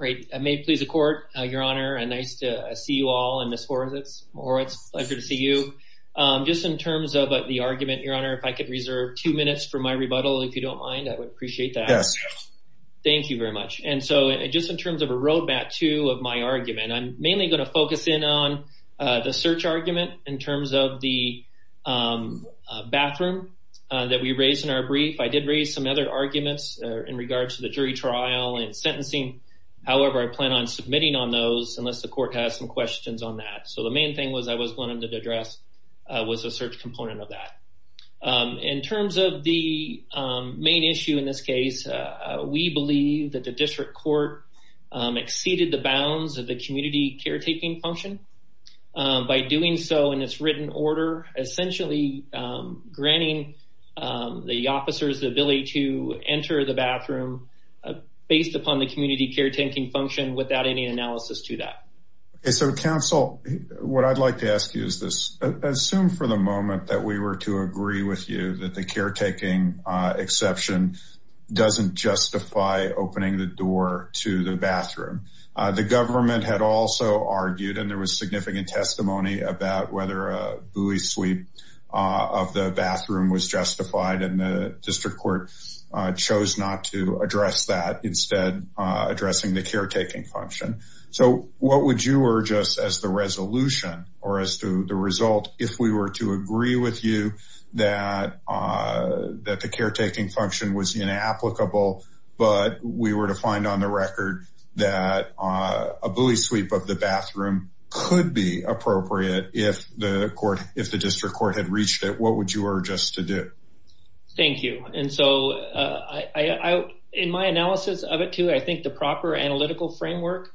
May it please the court, your honor, nice to see you all and Ms. Horowitz, it's a pleasure to see you. Just in terms of the argument, your honor, if I could reserve two minutes for my rebuttal, if you don't mind, I would appreciate that. Yes. Thank you very much. And so just in terms of a road map to my argument, I'm mainly going to focus in on the search argument in terms of the bathroom that we raised in our brief. I did raise some other arguments in regards to the jury trial and sentencing. However, I plan on submitting on those unless the court has some questions on that. So the main thing was I was going to address was a search component of that. In terms of the main issue in this case, we believe that the district court exceeded the bounds of the community caretaking function. By doing so in its written order, essentially granting the officers the ability to enter the bathroom based upon the community caretaking function without any analysis to that. So, counsel, what I'd like to ask you is this. Assume for the moment that we were to agree with you that the caretaking exception doesn't justify opening the door to the bathroom. The government had also argued and there was significant testimony about whether a buoy sweep of the bathroom was justified. And the district court chose not to address that, instead addressing the caretaking function. So what would you urge us as the resolution or as to the result? If we were to agree with you that the caretaking function was inapplicable, but we were to find on the record that a buoy sweep of the bathroom could be appropriate. If the court if the district court had reached it, what would you urge us to do? Thank you. And so I in my analysis of it, too, I think the proper analytical framework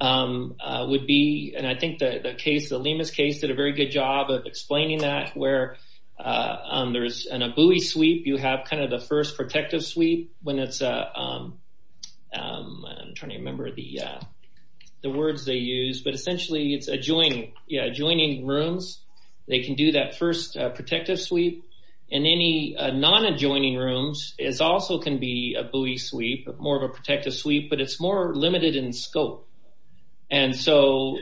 would be. And I think the case, the Lemus case, did a very good job of explaining that where there is a buoy sweep. You have kind of the first protective sweep when it's. I'm trying to remember the the words they use, but essentially it's adjoining adjoining rooms. They can do that first protective sweep in any non adjoining rooms is also can be a buoy sweep, more of a protective sweep, but it's more limited in scope. And so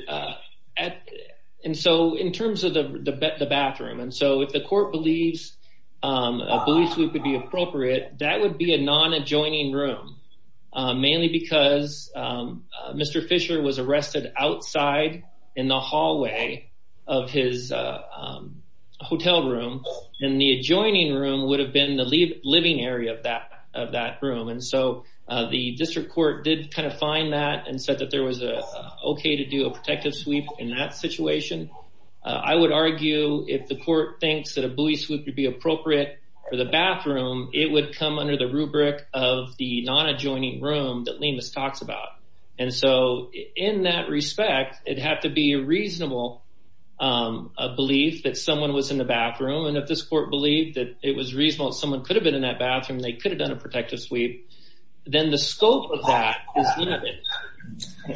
and so in terms of the bathroom and so if the court believes a buoy sweep would be appropriate, that would be a non adjoining room, mainly because Mr. Fisher was arrested outside in the hallway of his hotel room in the adjoining room would have been the living area of that of that room. And so the district court did kind of find that and said that there was a OK to do a protective sweep in that situation. I would argue if the court thinks that a buoy sweep would be appropriate for the bathroom, it would come under the rubric of the non adjoining room that Lemus talks about. And so in that respect, it had to be a reasonable belief that someone was in the bathroom. And if this court believed that it was reasonable, someone could have been in that bathroom, they could have done a protective sweep. Then the scope of that is limited.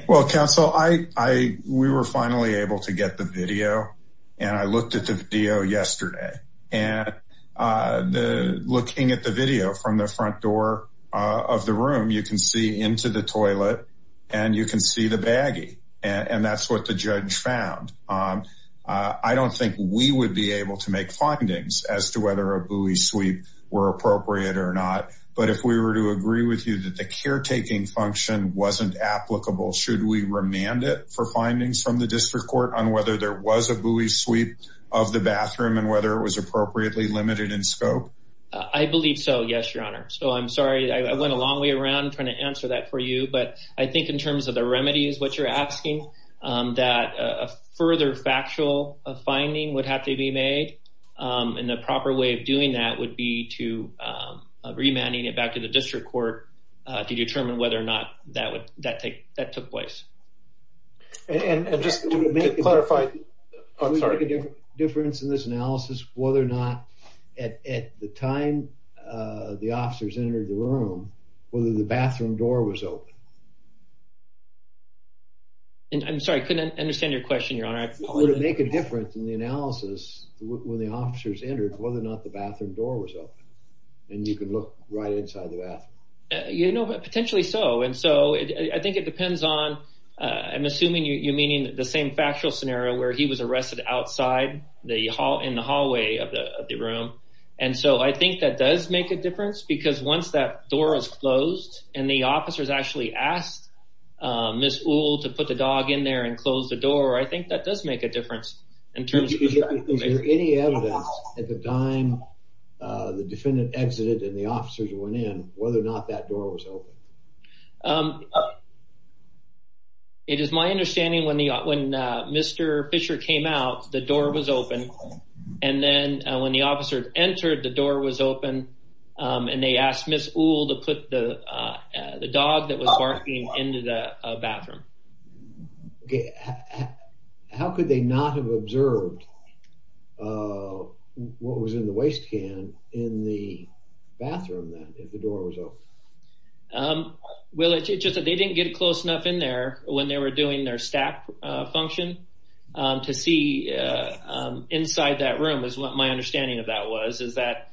Well, counsel, I we were finally able to get the video and I looked at the video yesterday and the looking at the video from the front door of the room. You can see into the toilet and you can see the baggy. And that's what the judge found. I don't think we would be able to make findings as to whether a buoy sweep were appropriate or not. But if we were to agree with you that the caretaking function wasn't applicable, should we remand it for findings from the district court on whether there was a buoy sweep of the bathroom and whether it was appropriately limited in scope? I believe so. Yes, your honor. So I'm sorry. I went a long way around trying to answer that for you. But I think in terms of the remedy is what you're asking that a further factual finding would have to be made. And the proper way of doing that would be to remanding it back to the district court to determine whether or not that would that take that took place. And just to clarify. I'm sorry. Difference in this analysis, whether or not at the time the officers entered the room, whether the bathroom door was open. And I'm sorry, I couldn't understand your question, your honor. Would it make a difference in the analysis when the officers entered, whether or not the bathroom door was open and you could look right inside the bathroom? You know, potentially so. And so I think it depends on I'm assuming you meaning the same factual scenario where he was arrested outside the hall in the hallway of the room. And so I think that does make a difference because once that door is closed and the officers actually asked Miss to put the dog in there and close the door. I think that does make a difference in terms of any evidence at the time the defendant exited and the officers went in, whether or not that door was open. It is my understanding when the when Mr. Fisher came out, the door was open. And then when the officers entered, the door was open and they asked Miss to put the dog that was barking into the bathroom. How could they not have observed what was in the waste can in the bathroom? Well, it's just that they didn't get close enough in there when they were doing their staff function to see inside that room is what my understanding of that was, is that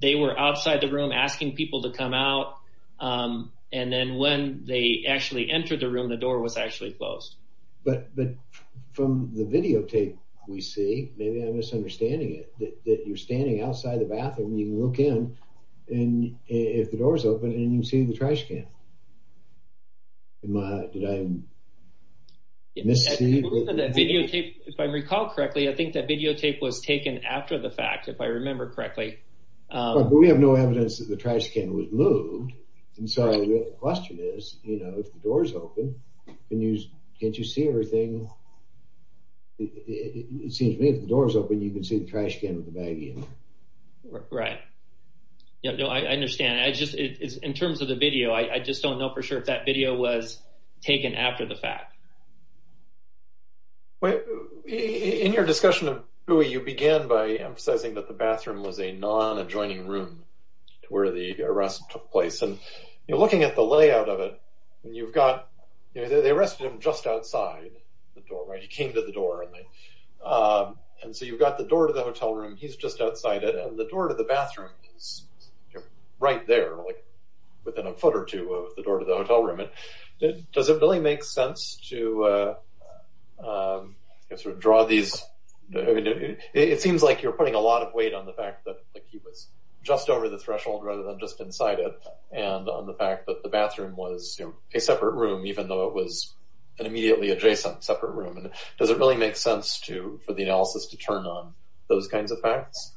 they were outside the room asking people to come out. And then when they actually entered the room, the door was actually closed. But from the videotape we see, maybe I'm misunderstanding it, that you're standing outside the bathroom and you can look in and if the door is open and you can see the trash can. If I recall correctly, I think that videotape was taken after the fact, if I remember correctly. But we have no evidence that the trash can was moved. And so the question is, you know, if the door is open, can't you see everything? It seems to me if the door is open, you can see the trash can with the bag in it. Right. Yeah, no, I understand. I just, in terms of the video, I just don't know for sure if that video was taken after the fact. Well, in your discussion of Bui, you began by emphasizing that the bathroom was a non-adjoining room to where the arrest took place. And you're looking at the layout of it and you've got, you know, they arrested him just outside the door, right? He came to the door. And so you've got the door to the hotel room. He's just outside it. And the door to the bathroom is right there, like within a foot or two of the door to the hotel room. Does it really make sense to sort of draw these? It seems like you're putting a lot of weight on the fact that he was just over the threshold rather than just inside it. And on the fact that the bathroom was a separate room, even though it was an immediately adjacent separate room. And does it really make sense to, for the analysis to turn on those kinds of facts?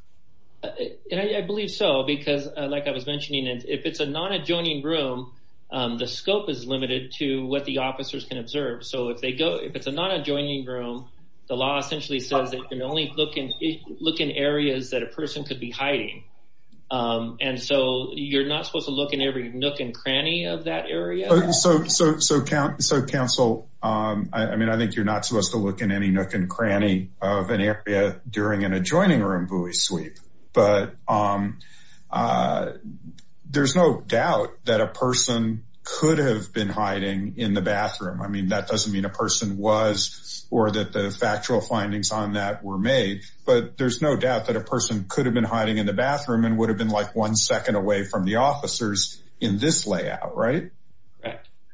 I believe so, because like I was mentioning, if it's a non-adjoining room, the scope is limited to what the officers can observe. So if they go, if it's a non-adjoining room, the law essentially says that you can only look in areas that a person could be hiding. And so you're not supposed to look in every nook and cranny of that area. So counsel, I mean, I think you're not supposed to look in any nook and cranny of an area during an adjoining room buoy sweep. But there's no doubt that a person could have been hiding in the bathroom. I mean, that doesn't mean a person was or that the factual findings on that were made. But there's no doubt that a person could have been hiding in the bathroom and would have been like one second away from the officers in this layout. Right?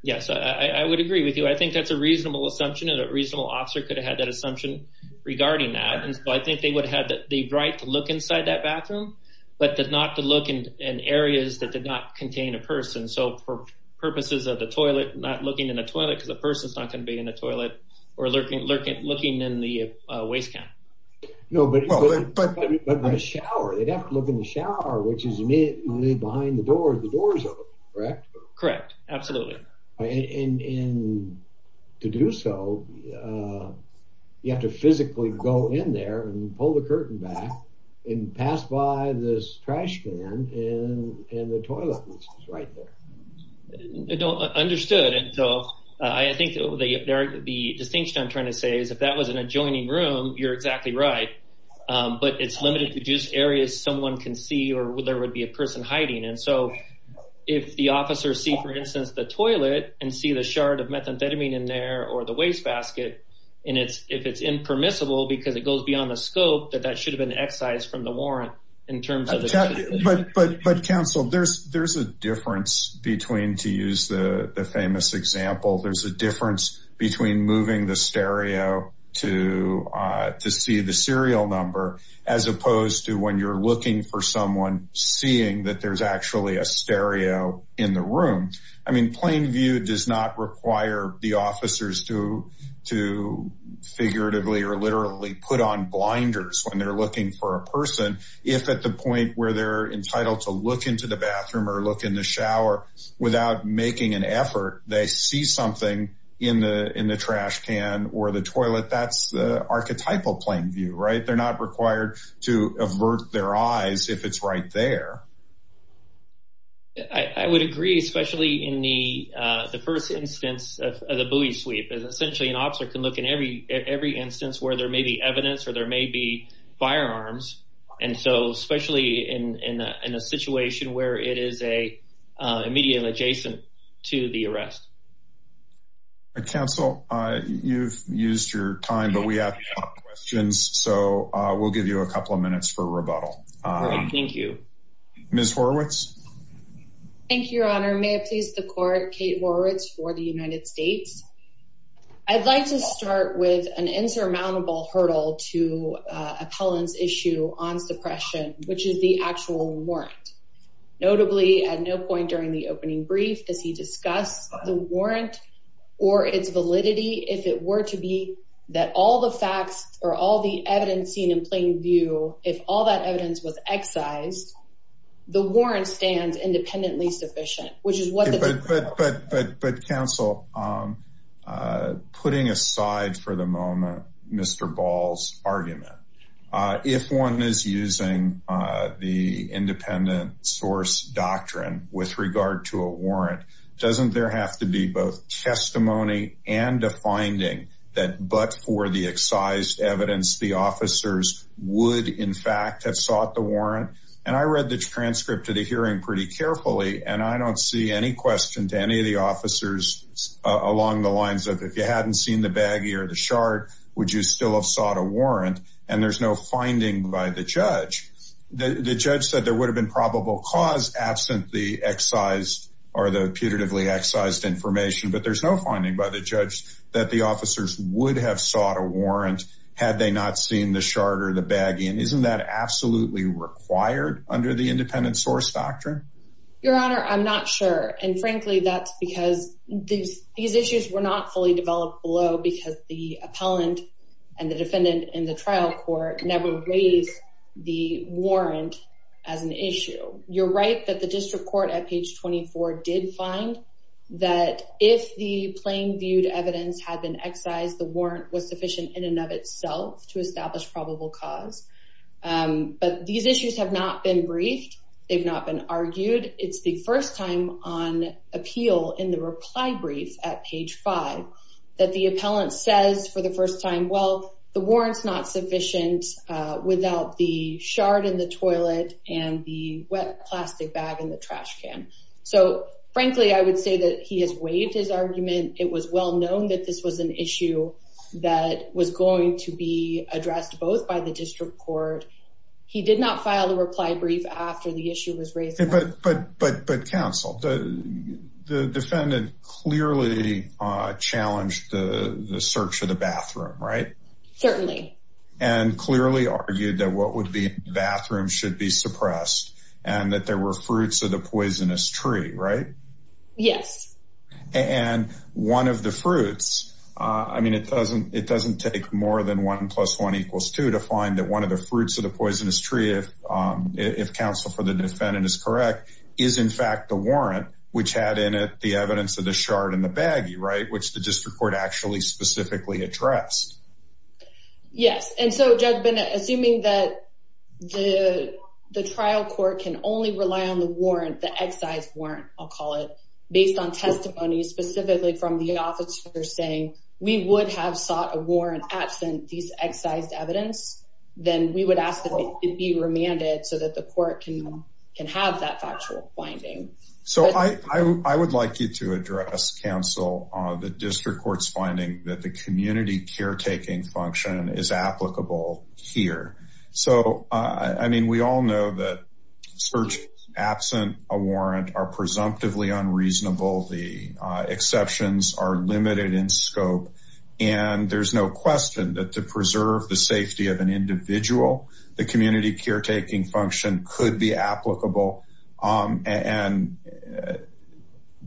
Yes, I would agree with you. I think that's a reasonable assumption and a reasonable officer could have had that assumption regarding that. And so I think they would have had the right to look inside that bathroom, but not to look in areas that did not contain a person. So for purposes of the toilet, not looking in a toilet, because a person's not going to be in a toilet, or looking in the waste can. No, but in a shower, they'd have to look in the shower, which is immediately behind the door, the door's open, correct? Correct. Absolutely. And to do so, you have to physically go in there and pull the curtain back and pass by this trash can in the toilet, which is right there. Understood. And so I think the distinction I'm trying to say is if that was an adjoining room, you're exactly right. But it's limited to just areas someone can see or where there would be a person hiding. And so if the officers see, for instance, the toilet and see the shard of methamphetamine in there or the wastebasket, and if it's impermissible because it goes beyond the scope, that that should have been excised from the warrant in terms of... But counsel, there's a difference between, to use the famous example, there's a difference between moving the stereo to see the serial number, as opposed to when you're looking for someone, seeing that there's actually a stereo in the room. I mean, plain view does not require the officers to figuratively or literally put on blinders when they're looking for a person, if at the point where they're entitled to look into the bathroom or look in the shower without making an effort, they see something in the trash can or the toilet. That's the archetypal plain view, right? They're not required to avert their eyes if it's right there. I would agree, especially in the first instance of the buoy sweep. Essentially, an officer can look in every instance where there may be evidence or there may be firearms. And so, especially in a situation where it is immediately adjacent to the arrest. Counsel, you've used your time, but we have a lot of questions, so we'll give you a couple of minutes for rebuttal. Thank you. Thank you, Your Honor. Your Honor, may it please the Court, Kate Horowitz for the United States. I'd like to start with an insurmountable hurdle to appellant's issue on suppression, which is the actual warrant. Notably, at no point during the opening brief does he discuss the warrant or its validity, if it were to be that all the facts or all the evidence seen in plain view, if all that evidence was excised, the warrant stands independently sufficient. But, Counsel, putting aside for the moment Mr. Ball's argument, if one is using the independent source doctrine with regard to a warrant, doesn't there have to be both testimony and a finding that but for the excised evidence, and I read the transcript of the hearing pretty carefully, and I don't see any question to any of the officers along the lines of, if you hadn't seen the baggie or the shard, would you still have sought a warrant? And there's no finding by the judge. The judge said there would have been probable cause absent the excised or the putatively excised information, but there's no finding by the judge that the officers would have sought a warrant had they not seen the shard or the baggie. And isn't that absolutely required under the independent source doctrine? Your Honor, I'm not sure. And frankly, that's because these issues were not fully developed below because the appellant and the defendant in the trial court never raised the warrant as an issue. You're right that the district court at page 24 did find that if the plain viewed evidence had been excised, the warrant was sufficient in and of itself to establish probable cause. But these issues have not been briefed. They've not been argued. It's the first time on appeal in the reply brief at page 5 that the appellant says for the first time, well, the warrant's not sufficient without the shard in the toilet and the wet plastic bag in the trash can. So frankly, I would say that he has waived his argument. It was well known that this was an issue that was going to be addressed both by the district court. He did not file the reply brief after the issue was raised. But counsel, the defendant clearly challenged the search of the bathroom, right? Certainly. And clearly argued that what would be in the bathroom should be suppressed and that there were fruits of the poisonous tree, right? Yes. And one of the fruits. I mean, it doesn't it doesn't take more than one plus one equals two to find that one of the fruits of the poisonous tree, if counsel for the defendant is correct, is in fact the warrant which had in it the evidence of the shard and the baggy. Right. Which the district court actually specifically addressed. Yes. And so, Judge Bennett, assuming that the trial court can only rely on the warrant, the excise warrant, I'll call it, based on testimony specifically from the officer saying we would have sought a warrant absent these excised evidence, then we would ask that it be remanded so that the court can can have that factual finding. So I would like you to address, counsel, the district court's finding that the community caretaking function is applicable here. So, I mean, we all know that search absent a warrant are presumptively unreasonable. The exceptions are limited in scope. And there's no question that to preserve the safety of an individual, the community caretaking function could be applicable. And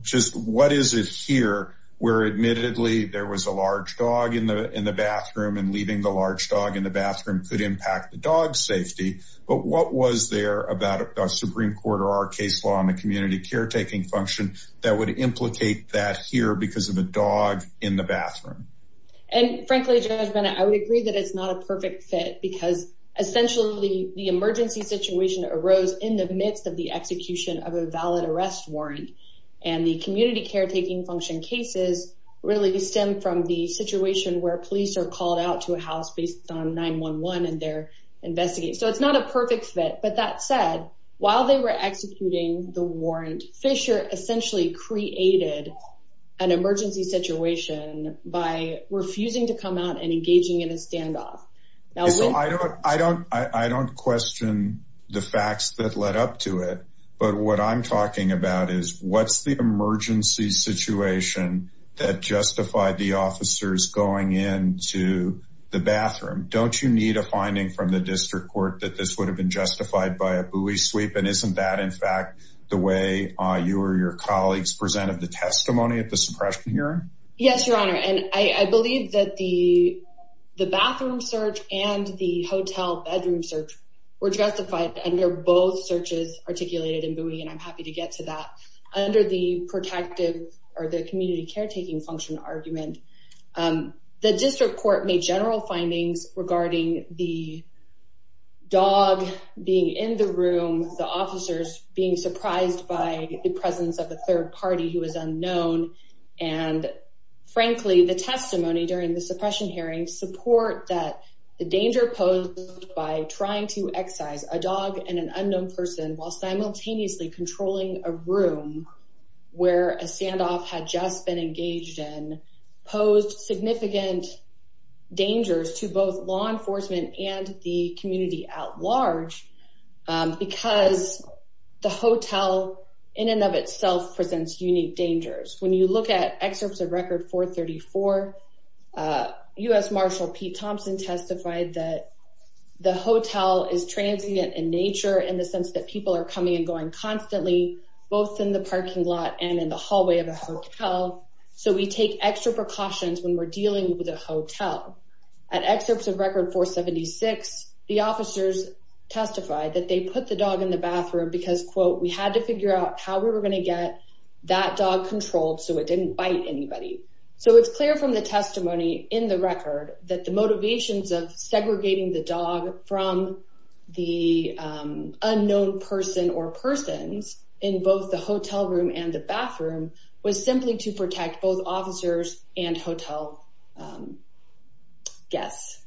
just what is it here where admittedly there was a large dog in the in the bathroom and leaving the large dog in the bathroom could impact the dog's safety. But what was there about a Supreme Court or our case law on the community caretaking function that would implicate that here because of a dog in the bathroom? And frankly, Judge Bennett, I would agree that it's not a perfect fit because essentially the emergency situation arose in the midst of the execution of a valid arrest warrant. And the community caretaking function cases really stem from the situation where police are called out to a house based on 9-1-1 and they're investigating. So it's not a perfect fit. But that said, while they were executing the warrant, Fisher essentially created an emergency situation by refusing to come out and engaging in a standoff. So I don't I don't I don't question the facts that led up to it. But what I'm talking about is what's the emergency situation that justified the officers going in to the bathroom? Don't you need a finding from the district court that this would have been justified by a buoy sweep? And isn't that, in fact, the way you or your colleagues presented the testimony at the suppression hearing? Yes, Your Honor, and I believe that the the bathroom search and the hotel bedroom search were justified under both searches articulated in buoy. And I'm happy to get to that under the protective or the community caretaking function argument. The district court made general findings regarding the dog being in the room, the officers being surprised by the presence of a third party who is unknown. And frankly, the testimony during the suppression hearing support that the danger posed by trying to excise a dog and an unknown person while simultaneously controlling a room where a standoff had just been engaged in posed significant dangers to both law enforcement and the community at large because the hotel in and of itself presents unique dangers. When you look at excerpts of Record 434, U.S. Marshal Pete Thompson testified that the hotel is transient in nature in the sense that people are coming and going constantly, both in the parking lot and in the hallway of the hotel. So we take extra precautions when we're dealing with a hotel. At excerpts of Record 476, the officers testified that they put the dog in the bathroom because, quote, we had to figure out how we were going to get that dog controlled so it didn't bite anybody. So it's clear from the testimony in the record that the motivations of segregating the dog from the unknown person or persons in both the hotel room and the bathroom was simply to protect both officers and hotel guests.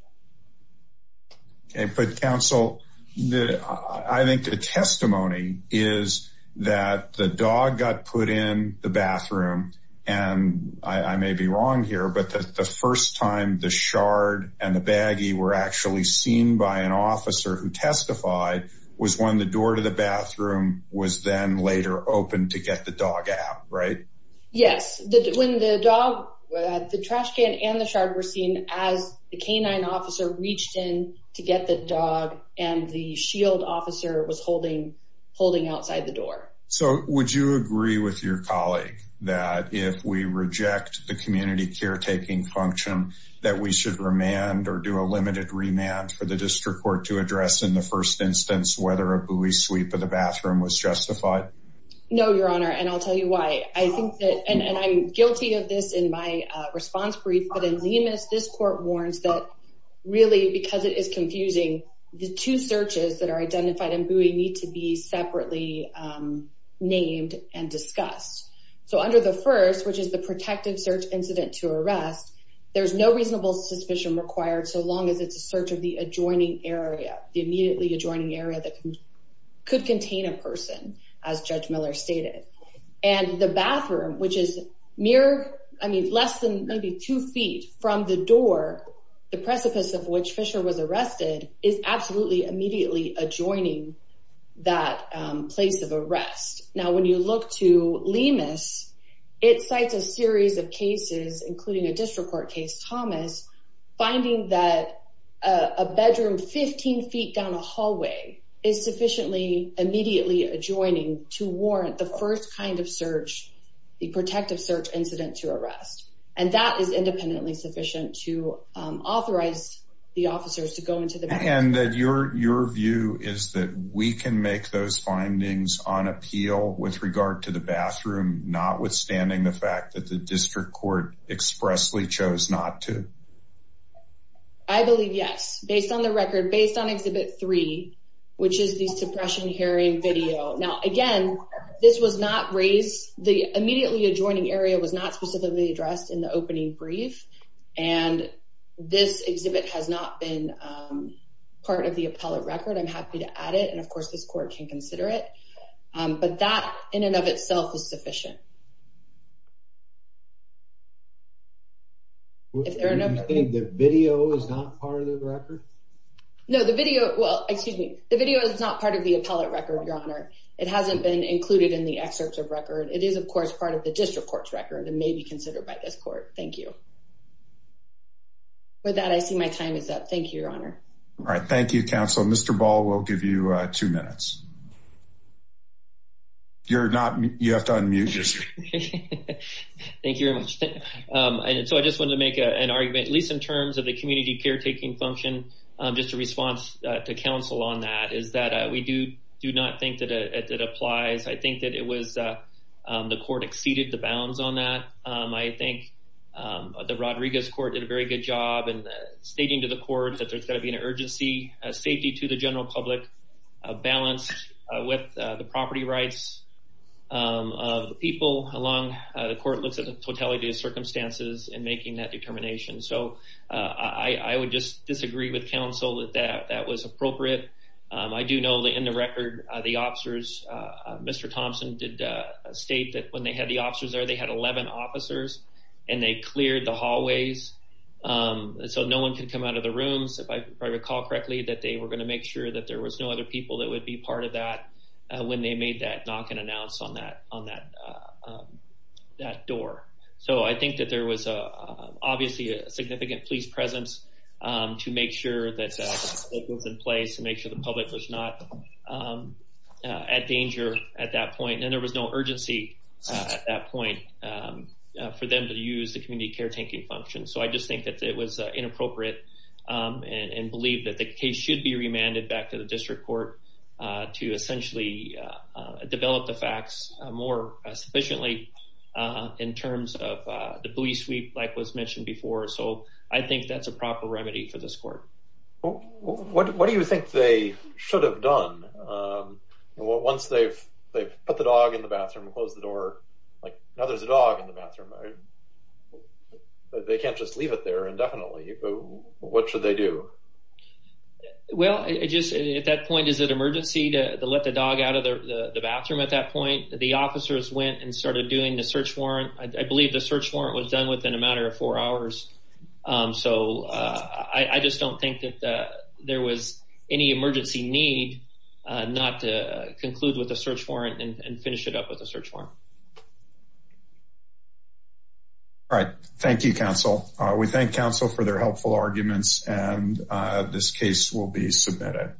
OK, but counsel, I think the testimony is that the dog got put in the bathroom and I may be wrong here, but the first time the shard and the baggie were actually seen by an officer who testified was when the door to the bathroom was then later opened to get the dog out, right? Yes, when the dog, the trash can and the shard were seen as the canine officer reached in to get the dog and the shield officer was holding outside the door. So would you agree with your colleague that if we reject the community caretaking function that we should remand or do a limited remand for the district court to address in the first instance whether a buoy sweep of the bathroom was justified? No, Your Honor, and I'll tell you why. I think that, and I'm guilty of this in my response brief, but in Zimas, this court warns that really because it is confusing, the two searches that are identified in buoy need to be separately named and discussed. So under the first, which is the protective search incident to arrest, there's no reasonable suspicion required so long as it's a search of the adjoining area, the immediately adjoining area that could contain a person as Judge Miller stated. And the bathroom, which is mere, I mean, less than maybe two feet from the door, the precipice of which Fisher was arrested, is absolutely immediately adjoining that place of arrest. Now, when you look to Limas, it cites a series of cases, including a district court case, Thomas, finding that a bedroom 15 feet down a hallway is sufficiently immediately adjoining to warrant the first kind of search, the protective search incident to arrest, and that is independently sufficient to authorize the officers to go into the bathroom. And that your view is that we can make those findings on appeal with regard to the bathroom, notwithstanding the fact that the district court expressly chose not to? I believe yes, based on the record, based on exhibit three, which is the suppression hearing video. Now, again, this was not raised, the immediately adjoining area was not specifically addressed in the opening brief. And this exhibit has not been part of the appellate record. I'm happy to add it. And of course, this court can consider it. But that in and of itself is sufficient. If there are no video is not part of the record. No, the video. Well, excuse me. The video is not part of the appellate record. Your honor. It hasn't been included in the excerpts of record. It is, of course, part of the district court's record and may be considered by this court. Thank you. With that, I see my time is up. Thank you, Your Honor. All right. Thank you, Counselor. Mr Ball will give you two minutes. You're not, you have to unmute. Thank you very much. And so I just wanted to make an argument, at least in terms of the community caretaking function. Just a response to counsel on that is that we do not think that it applies. I think that it was the court exceeded the bounds on that. I think the Rodriguez court did a very good job in stating to the court that there's got to be an urgency, safety to the general public, balanced with the property rights of the people. The court looks at the totality of circumstances in making that determination. So I would just disagree with counsel that that was appropriate. I do know that in the record, the officers, Mr. Thompson did state that when they had the officers there, they had 11 officers and they cleared the hallways so no one could come out of the rooms. If I recall correctly, that they were going to make sure that there was no other people that would be part of that when they made that knock and announce on that door. So I think that there was obviously a significant police presence to make sure that it was in place and make sure the public was not at danger at that point. And there was no urgency at that point for them to use the community caretaking function. So I just think that it was inappropriate and believe that the case should be remanded back to the district court to essentially develop the facts more sufficiently in terms of the police sweep like was mentioned before. So I think that's a proper remedy for this court. What do you think they should have done once they've put the dog in the bathroom, closed the door? Now there's a dog in the bathroom. They can't just leave it there indefinitely. What should they do? Well, at that point, is it emergency to let the dog out of the bathroom at that point? The officers went and started doing the search warrant. I believe the search warrant was done within a matter of four hours. So I just don't think that there was any emergency need not to conclude with a search warrant and finish it up with a search warrant. All right. Thank you, counsel. We thank counsel for their helpful arguments, and this case will be submitted.